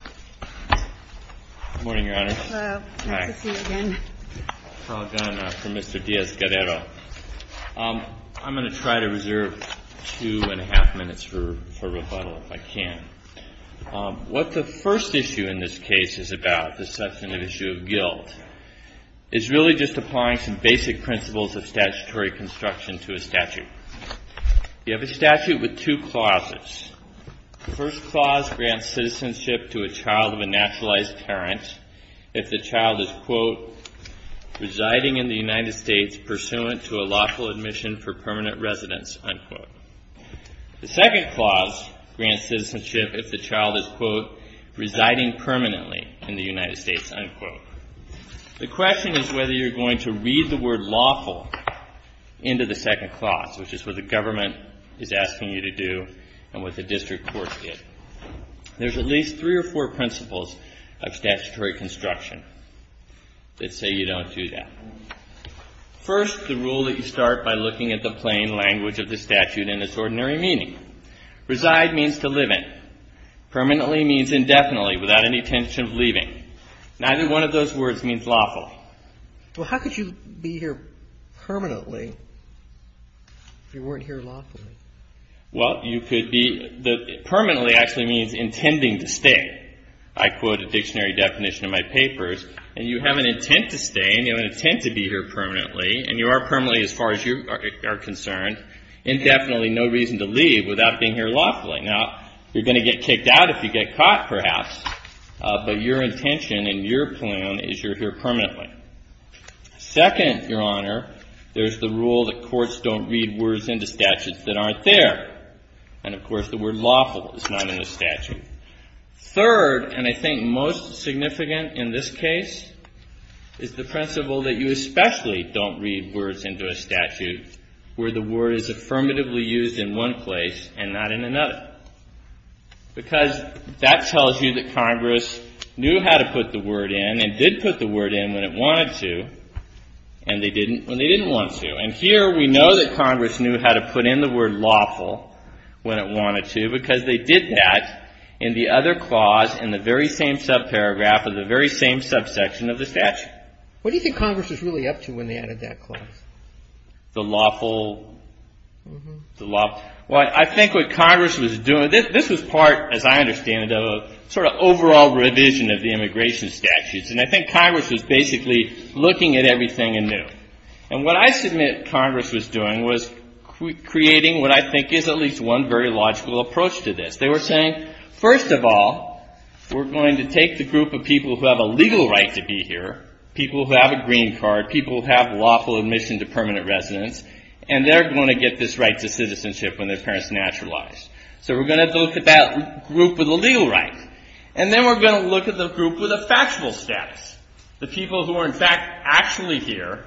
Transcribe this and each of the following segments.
I'm going to try to reserve two and a half minutes for rebuttal if I can. What the first issue in this case is about, the substantive issue of guilt, is really just applying some basic principles of statutory construction to a statute. You have a statute with two clauses. The first clause grants citizenship to a child of a naturalized parent if the child is, quote, residing in the United States pursuant to a lawful admission for permanent residence, unquote. The second clause grants citizenship if the child is, quote, residing permanently in the United States, unquote. The question is whether you're going to read the word lawful into the second clause, which is what the government is asking you to do and what the district court did. There's at least three or four principles of statutory construction that say you don't do that. First, the rule that you start by looking at the plain language of the statute in its ordinary meaning. Reside means to live in. Permanently means indefinitely, without any intention of leaving. Neither one of those words means lawful. Well, how could you be here permanently if you weren't here lawfully? Well, you could be the, permanently actually means intending to stay. I quote a dictionary definition in my papers, and you have an intent to stay and you have an intent to be here permanently, and you are permanently as far as you are concerned, indefinitely, no reason to leave without being here lawfully. Now, you're going to get kicked out if you get kicked out, perhaps, but your intention and your plan is you're here permanently. Second, Your Honor, there's the rule that courts don't read words into statutes that aren't there. And of course, the word lawful is not in the statute. Third, and I think most significant in this case, is the principle that you especially don't read words into a statute where the word is affirmatively used in one place and not in another. Because that tells you that Congress knew how to put the word in and did put the word in when it wanted to, and they didn't when they didn't want to. And here we know that Congress knew how to put in the word lawful when it wanted to because they did that in the other clause in the very same subparagraph of the very same subsection of the statute. What do you think Congress was really up to when they added that clause? The lawful, the lawful. Well, I think what Congress was doing, this was part, as I understand it, of a sort of overall revision of the immigration statutes. And I think Congress was basically looking at everything anew. And what I submit Congress was doing was creating what I think is at least one very logical approach to this. They were saying, first of all, we're going to take the group of people who have a legal right to be here, people who have a green permission to permanent residence, and they're going to get this right to citizenship when their parents naturalized. So we're going to look at that group with a legal right. And then we're going to look at the group with a factual status, the people who are in fact actually here,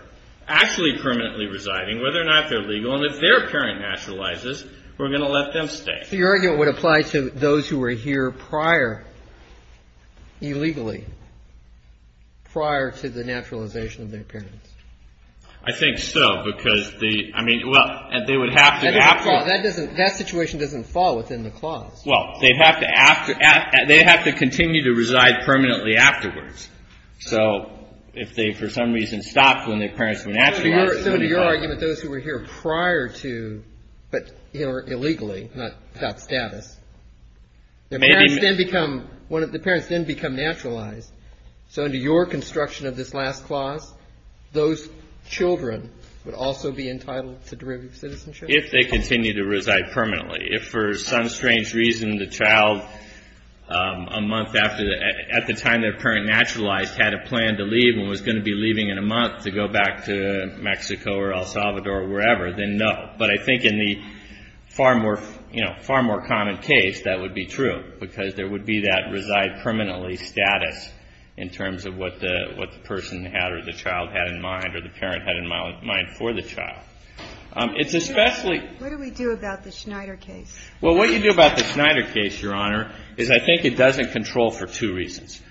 actually permanently residing, whether or not they're legal. And if their parent naturalizes, we're going to let them stay. So your argument would apply to those who were here prior, illegally, prior to the naturalization of their parents? I think so, because the, I mean, well, they would have to. That doesn't fall, that doesn't, that situation doesn't fall within the clause. Well, they'd have to, they'd have to continue to reside permanently afterwards. So if they for some reason stopped when their parents were naturalized. So under your argument, those who were here prior to, but illegally, not without status. Their parents then become, the parents then become naturalized. So under your construction of this last clause, those children would also be entitled to derivative citizenship? If they continue to reside permanently. If for some strange reason the child a month after the, at the time their parent naturalized had a plan to leave and was going to be leaving in a month to go back to Mexico or El Salvador or wherever, then no. But I think in the far more, you know, far more common case, that would be true, because there would be that reside permanently status in terms of what the, what the person had or the child had in mind or the parent had in mind for the child. It's especially. What do we do about the Schneider case? Well, what you do about the Schneider case, Your Honor, is I think it doesn't control for two reasons.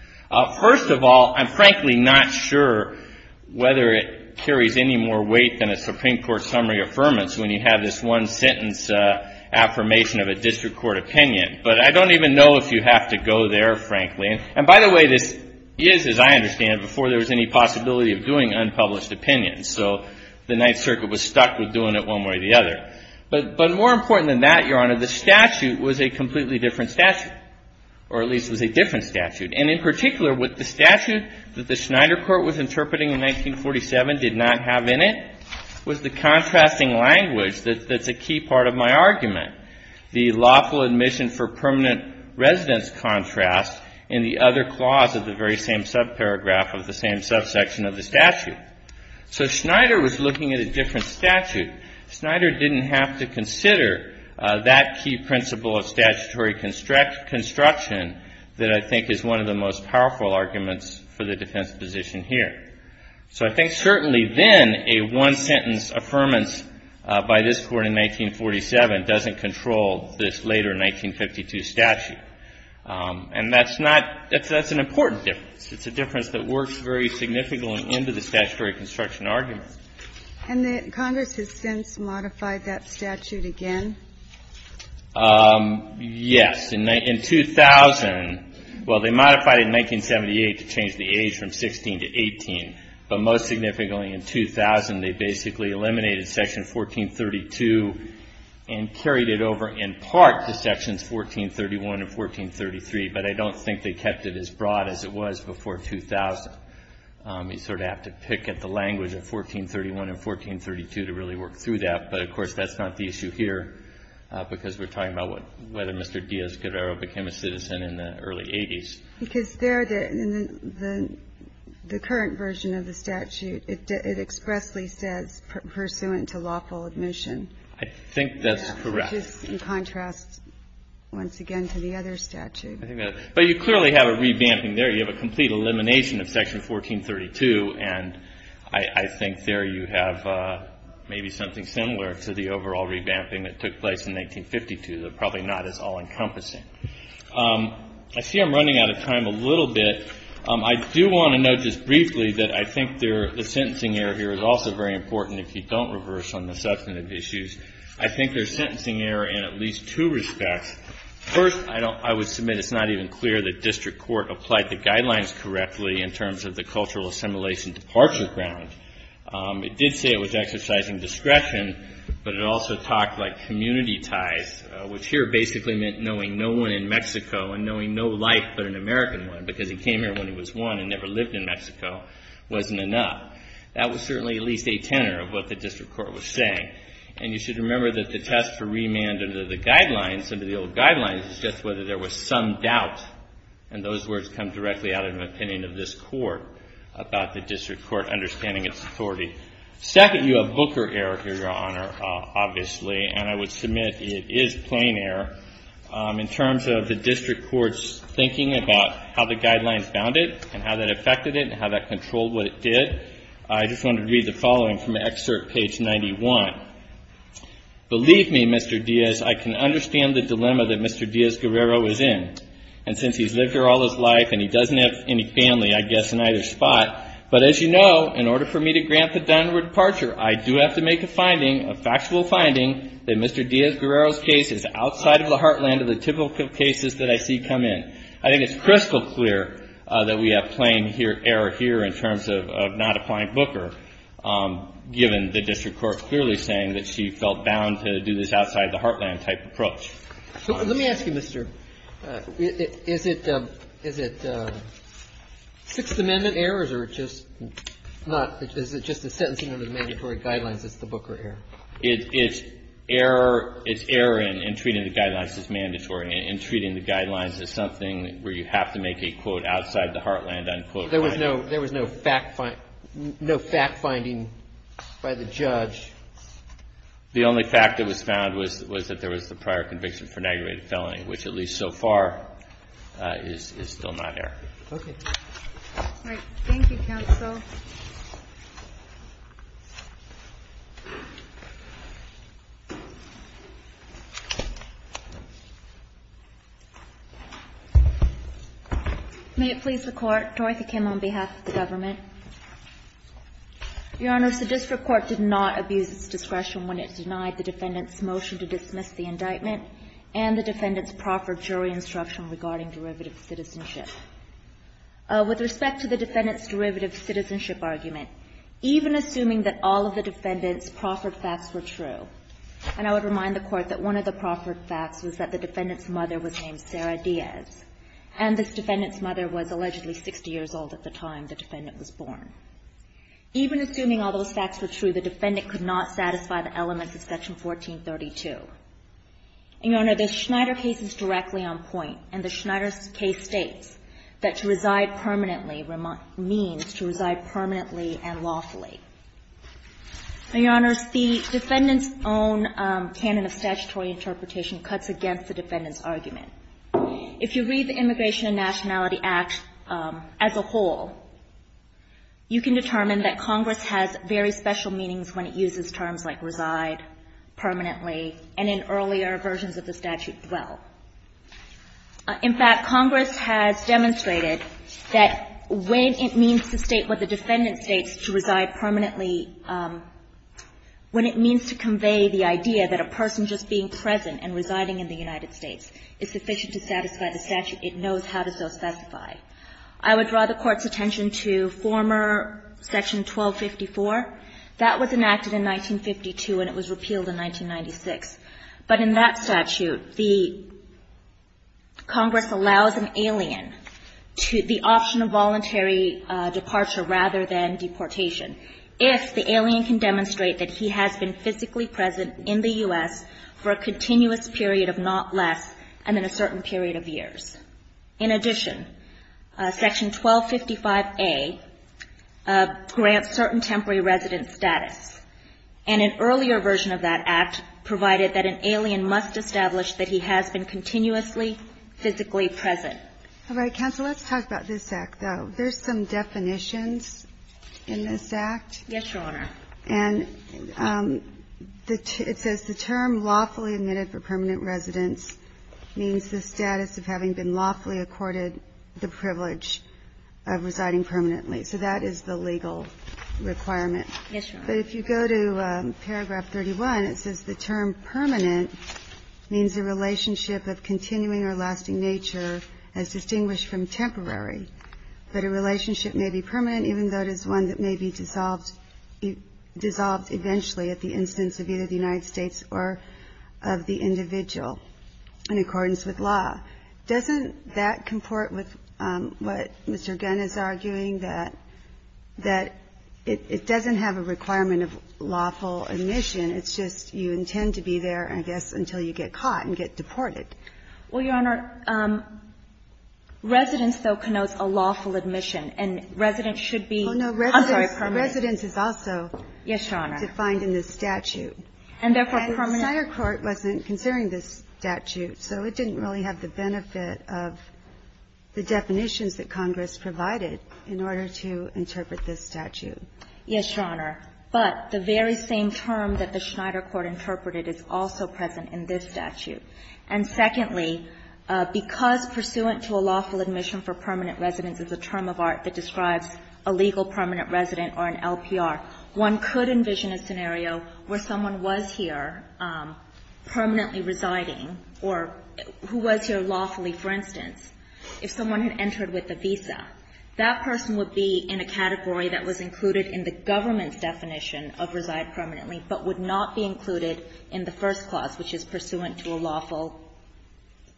First of all, I'm frankly not sure whether it carries any more weight than a Supreme Court summary affirmance when you have this one sentence affirmation of a district court opinion. But I don't even know if you have to go there, frankly. And by the way, this is, as I understand it, before there was any possibility of doing unpublished opinions. So the Ninth Circuit was stuck with doing it one way or the other. But more important than that, Your Honor, the statute was a completely different statute, or at least it was a different statute. And in particular, what the statute that the Schneider Court was interpreting in 1947 did not have in it was the contrasting language that's a key part of my argument, the lawful admission for permanent residence contrast in the other clause of the very same subparagraph of the same subsection of the statute. So Schneider was looking at a different statute. Schneider didn't have to consider that key principle of statutory construction that I think is one of the most powerful arguments for the defense position here. So I think certainly then a one-sentence affirmance by this Court in 1947 doesn't control this later 1952 statute. And that's not — that's an important difference. It's a difference that works very significantly into the statutory construction argument. And the Congress has since modified that statute again? Yes. In 2000 — well, they modified it in 1978 to change the age from 16 to 18. But most significantly in 2000, they basically eliminated Section 1432 and carried it over in part to Sections 1431 and 1433. But I don't think they kept it as broad as it was before 2000. You sort of have to pick at the language of 1431 and 1432 to really work through that. But, of course, that's not the issue here because we're talking about whether Mr. Diaz-Guerrero became a citizen in the early 80s. Because there, the current version of the statute, it expressly says, pursuant to lawful admission. I think that's correct. Which is in contrast, once again, to the other statute. But you clearly have a revamping there. You have a complete elimination of Section 1432. And I think there you have maybe something similar to the overall revamping that took place in 1952. They're probably not as all-encompassing. I see I'm running out of time a little bit. I do want to note just briefly that I think the sentencing error here is also very important, if you don't reverse on the substantive issues. I think there's sentencing error in at least two respects. First, I would submit it's not even clear that district court applied the guidelines correctly in terms of the cultural assimilation departure ground. It did say it was exercising discretion, but it also talked like community ties, which here basically meant knowing no one in Mexico and knowing no life but an American one because he came here when he was one and never lived in Mexico wasn't enough. That was certainly at least a tenor of what the district court was saying. And you should remember that the test for remand under the guidelines, some of the old guidelines, is just whether there was some doubt. And those words come directly out of an opinion of this Court about the district court understanding its authority. Second, you have Booker error here, Your Honor, obviously, and I would submit it is plain error. In terms of the district court's thinking about how the guidelines bound it and how that affected it and how that controlled what it did, I just wanted to read the following from excerpt page 91. Believe me, Mr. Diaz, I can understand the dilemma that Mr. Diaz-Guerrero is in and since he's lived here all his life and he doesn't have any family, I guess, in either spot. But as you know, in order for me to grant the Dunwoody departure, I do have to make a finding, a factual finding, that Mr. Diaz-Guerrero's case is outside of the heartland of the typical cases that I see come in. I think it's crystal clear that we have plain error here in terms of not applying Booker, given the district court clearly saying that she felt bound to do this outside-the-heartland type approach. Let me ask you, Mr. Is it Sixth Amendment errors or is it just a sentencing under the mandatory guidelines that's the Booker error? It's error in treating the guidelines as mandatory. In treating the guidelines as something where you have to make a, quote, outside-the-heartland unquote finding. There was no fact finding by the judge. The only fact that was found was that there was the prior conviction for an aggravated felony, which at least so far is still not error. Okay. All right. Thank you, counsel. May it please the Court. Dorothy Kim on behalf of the government. Your Honor, the district court did not abuse its discretion when it denied the defendant's motion to dismiss the indictment and the defendant's proffered jury instruction regarding derivative citizenship. With respect to the defendant's derivative citizenship argument, even assuming that all of the defendant's proffered facts were true, and I would remind the Court that one of the proffered facts was that the defendant's mother was named Sarah Diaz, and this defendant's mother was allegedly 60 years old at the time the defendant was born. Even assuming all those facts were true, the defendant could not satisfy the elements of Section 1432. Your Honor, the Schneider case is directly on point, and the Schneider case states that to reside permanently means to reside permanently and lawfully. Your Honors, the defendant's own canon of statutory interpretation cuts against the defendant's argument. If you read the Immigration and Nationality Act as a whole, you can determine that Congress has very special meanings when it uses terms like reside permanently and in earlier versions of the statute dwell. In fact, Congress has demonstrated that when it means to state what the defendant states to reside permanently, when it means to convey the idea that a person just being present and residing in the United States is sufficient to satisfy the statute, it knows how to so specify. I would draw the Court's attention to former Section 1254. That was enacted in 1952, and it was repealed in 1996. But in that statute, the Congress allows an alien the option of voluntary departure rather than deportation if the alien can demonstrate that he has been physically present in the U.S. for a continuous period of not less than a certain period of years. In addition, Section 1255A grants certain temporary resident status, and an earlier version of that act provided that an alien must establish that he has been continuously physically present. All right. Counsel, let's talk about this Act, though. There's some definitions in this Act. Yes, Your Honor. And it says the term lawfully admitted for permanent residence means the status of having been lawfully accorded the privilege of residing permanently. So that is the legal requirement. Yes, Your Honor. But if you go to paragraph 31, it says the term permanent means a relationship of continuing or lasting nature as distinguished from temporary. But a relationship may be permanent even though it is one that may be dissolved eventually at the instance of either the United States or of the individual in accordance with law. Doesn't that comport with what Mr. Gunn is arguing, that it doesn't have a requirement of lawful admission, it's just you intend to be there, I guess, until you get caught and get deported? Well, Your Honor, residence, though, connotes a lawful admission. And residence should be permanent. Oh, no. Residence is also defined in this statute. And the Schneider court wasn't considering this statute, so it didn't really have the benefit of the definitions that Congress provided in order to interpret this statute. Yes, Your Honor. But the very same term that the Schneider court interpreted is also present in this statute. Secondly, because pursuant to a lawful admission for permanent residence is a term of art that describes a legal permanent resident or an LPR, one could envision a scenario where someone was here permanently residing or who was here lawfully, for instance, if someone had entered with a visa. That person would be in a category that was included in the government's definition of reside permanently, but would not be included in the first clause, which is pursuant to a lawful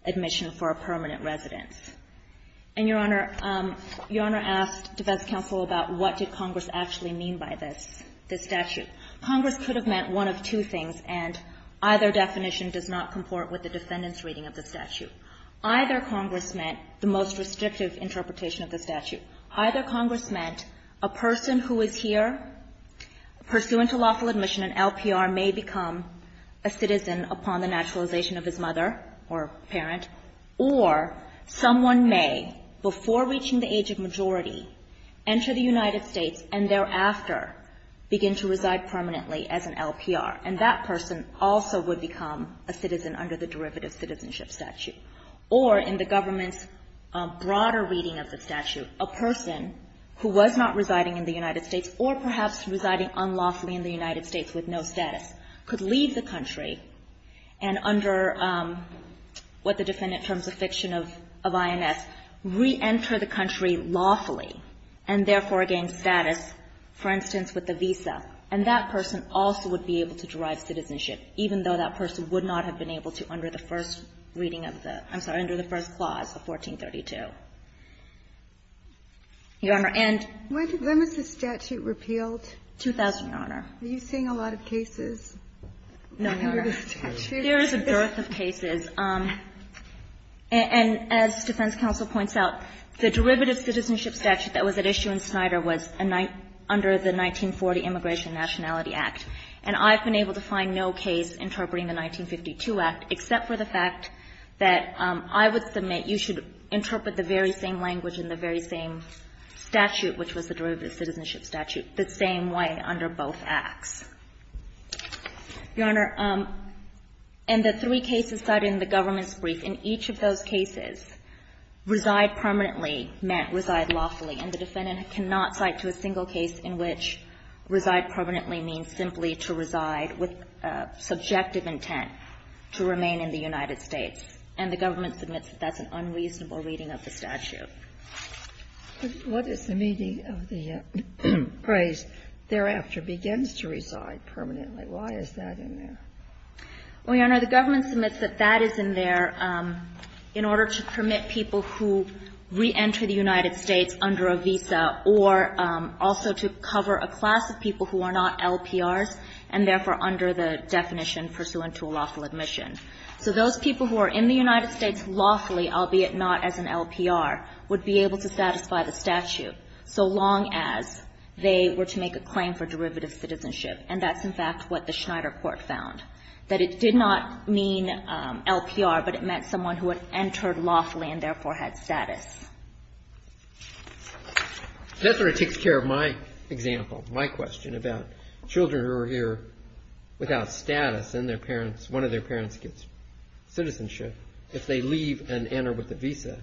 admission for a permanent residence. And, Your Honor, Your Honor asked defense counsel about what did Congress actually mean by this, this statute. Congress could have meant one of two things, and either definition does not comport with the defendant's reading of the statute. Either Congress meant the most restrictive interpretation of the statute. Either Congress meant a person who is here pursuant to lawful admission, an LPR, may become a citizen upon the naturalization of his mother or parent, or someone may, before reaching the age of majority, enter the United States and thereafter begin to reside permanently as an LPR, and that person also would become a citizen under the derivative citizenship statute. Or in the government's broader reading of the statute, a person who was not residing in the United States or perhaps residing unlawfully in the United States with no citizenship status could leave the country and under what the defendant terms of fiction of INS, reenter the country lawfully, and therefore gain status, for instance, with a visa, and that person also would be able to derive citizenship, even though that person would not have been able to under the first reading of the – I'm sorry, under the first clause of 1432. Your Honor, and – When was the statute repealed? 2000, Your Honor. Are you seeing a lot of cases under the statute? No, Your Honor. There is a dearth of cases. And as defense counsel points out, the derivative citizenship statute that was at issue in Snyder was under the 1940 Immigration and Nationality Act. And I've been able to find no case interpreting the 1952 Act, except for the fact that I would submit you should interpret the very same language in the very same statute, which was the derivative citizenship statute, the same way under both acts. Your Honor, in the three cases cited in the government's brief, in each of those cases, reside permanently meant reside lawfully, and the defendant cannot cite to a single case in which reside permanently means simply to reside with subjective intent to remain in the United States. And the government submits that that's an unreasonable reading of the statute. What is the meaning of the phrase, thereafter begins to reside permanently? Why is that in there? Well, Your Honor, the government submits that that is in there in order to permit people who reenter the United States under a visa or also to cover a class of people who are not LPRs and therefore under the definition pursuant to a lawful admission. So those people who are in the United States lawfully, albeit not as an LPR, would be able to satisfy the statute, so long as they were to make a claim for derivative citizenship. And that's, in fact, what the Schneider court found. That it did not mean LPR, but it meant someone who had entered lawfully and therefore had status. That sort of takes care of my example, my question about children who are here without status and their parents, one of their parents gets citizenship. If they leave and enter with a visa.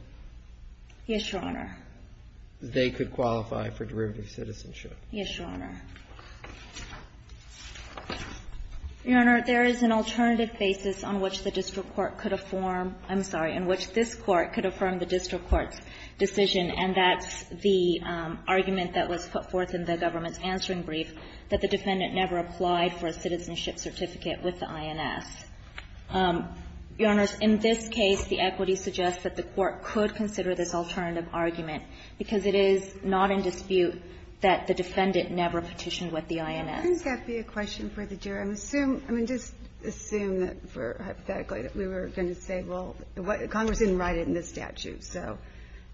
Yes, Your Honor. They could qualify for derivative citizenship. Yes, Your Honor. Your Honor, there is an alternative basis on which the district court could affirm, I'm sorry, in which this court could affirm the district court's decision and that's the argument that was put forth in the government's answering brief. That the defendant never applied for a citizenship certificate with the INS. Your Honor, in this case, the equity suggests that the court could consider this alternative argument because it is not in dispute that the defendant never petitioned with the INS. I think that'd be a question for the jury. I'm assuming, I mean, just assume that for, hypothetically, that we were going to say, well, Congress didn't write it in this statute. So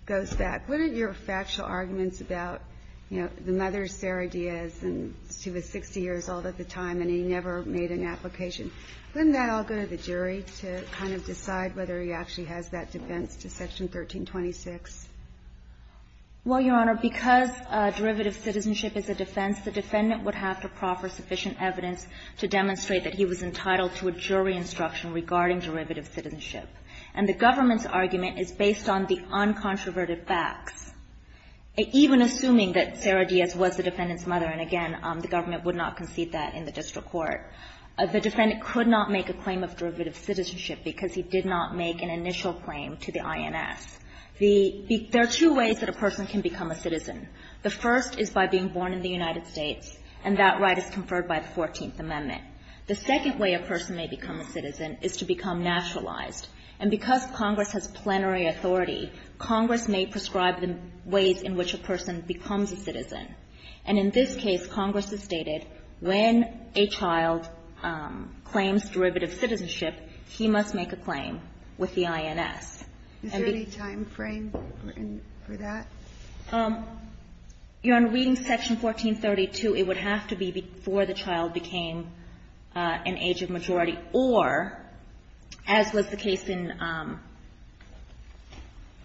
it goes back. What are your factual arguments about, you know, the mother, Sarah Diaz, and she was 60 years old at the time, and he never made an application. Wouldn't that all go to the jury to kind of decide whether he actually has that defense to Section 1326? Well, Your Honor, because derivative citizenship is a defense, the defendant would have to proffer sufficient evidence to demonstrate that he was entitled to a jury instruction regarding derivative citizenship. And the government's argument is based on the uncontroverted facts. Even assuming that Sarah Diaz was the defendant's mother, and again, the government would not concede that in the district court, the defendant could not make a claim of derivative citizenship because he did not make an initial claim to the INS. The, there are two ways that a person can become a citizen. The first is by being born in the United States, and that right is conferred by the 14th Amendment. The second way a person may become a citizen is to become naturalized. And because Congress has plenary authority, Congress may prescribe the ways in which a person becomes a citizen. And in this case, Congress has stated when a child claims derivative citizenship, he must make a claim with the INS. Is there any time frame for that? Your Honor, reading Section 1432, it would have to be before the child became an age of majority, or, as was the case in, I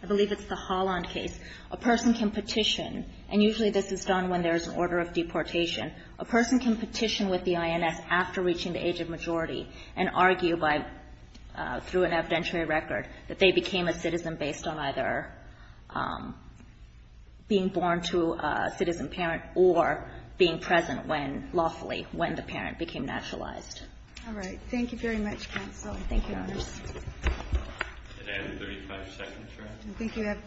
believe it's the Holland case, a person can petition, and usually this is done when there's an order of deportation. A person can petition with the INS after reaching the age of majority, and argue by, through an evidentiary record, that they became a citizen based on either being born to a citizen parent or being present when, lawfully, when the parent became naturalized. All right. Thank you very much, counsel. Thank you, Your Honor. Did I have 35 seconds, Your Honor? I think you have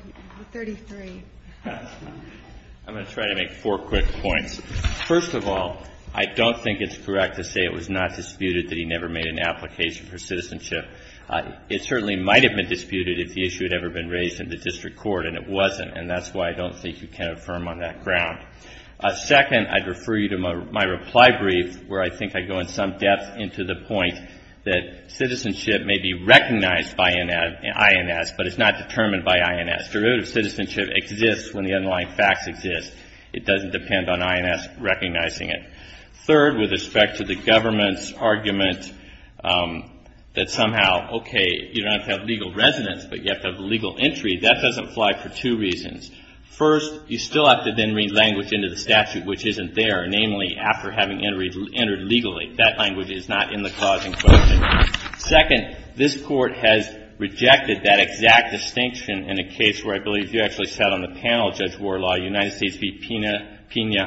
33. I'm going to try to make four quick points. First of all, I don't think it's correct to say it was not disputed that he never made an application for citizenship. It certainly might have been disputed if the issue had ever been raised in the district court, and it wasn't, and that's why I don't think you can affirm on that ground. Second, I'd refer you to my reply brief, where I think I go in some depth into the point that citizenship may be recognized by INS, but it's not determined by INS. Derivative citizenship exists when the underlying facts exist. It doesn't depend on INS recognizing it. Third, with respect to the government's argument that somehow, okay, you don't have to have legal residence, but you have to have legal entry, that doesn't fly for two reasons. First, you still have to then read language into the statute which isn't there, namely, after having entered legally. That language is not in the clause in question. Second, this Court has rejected that exact distinction in a case where I believe you actually sat on the panel, Judge Warlaw, United States v. Pena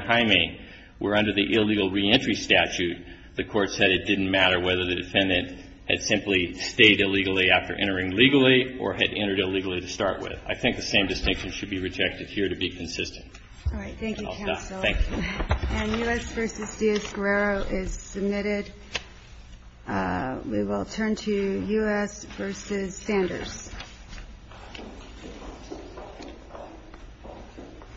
Jaime, where under the illegal reentry statute, the Court said it didn't matter whether the defendant had simply stayed illegally after entering legally or had entered illegally to start with. I think the same distinction should be rejected here to be consistent. All right. Thank you, Counsel. Thank you. And U.S. v. Diaz-Guerrero is submitted. We will turn to U.S. v. Sanders.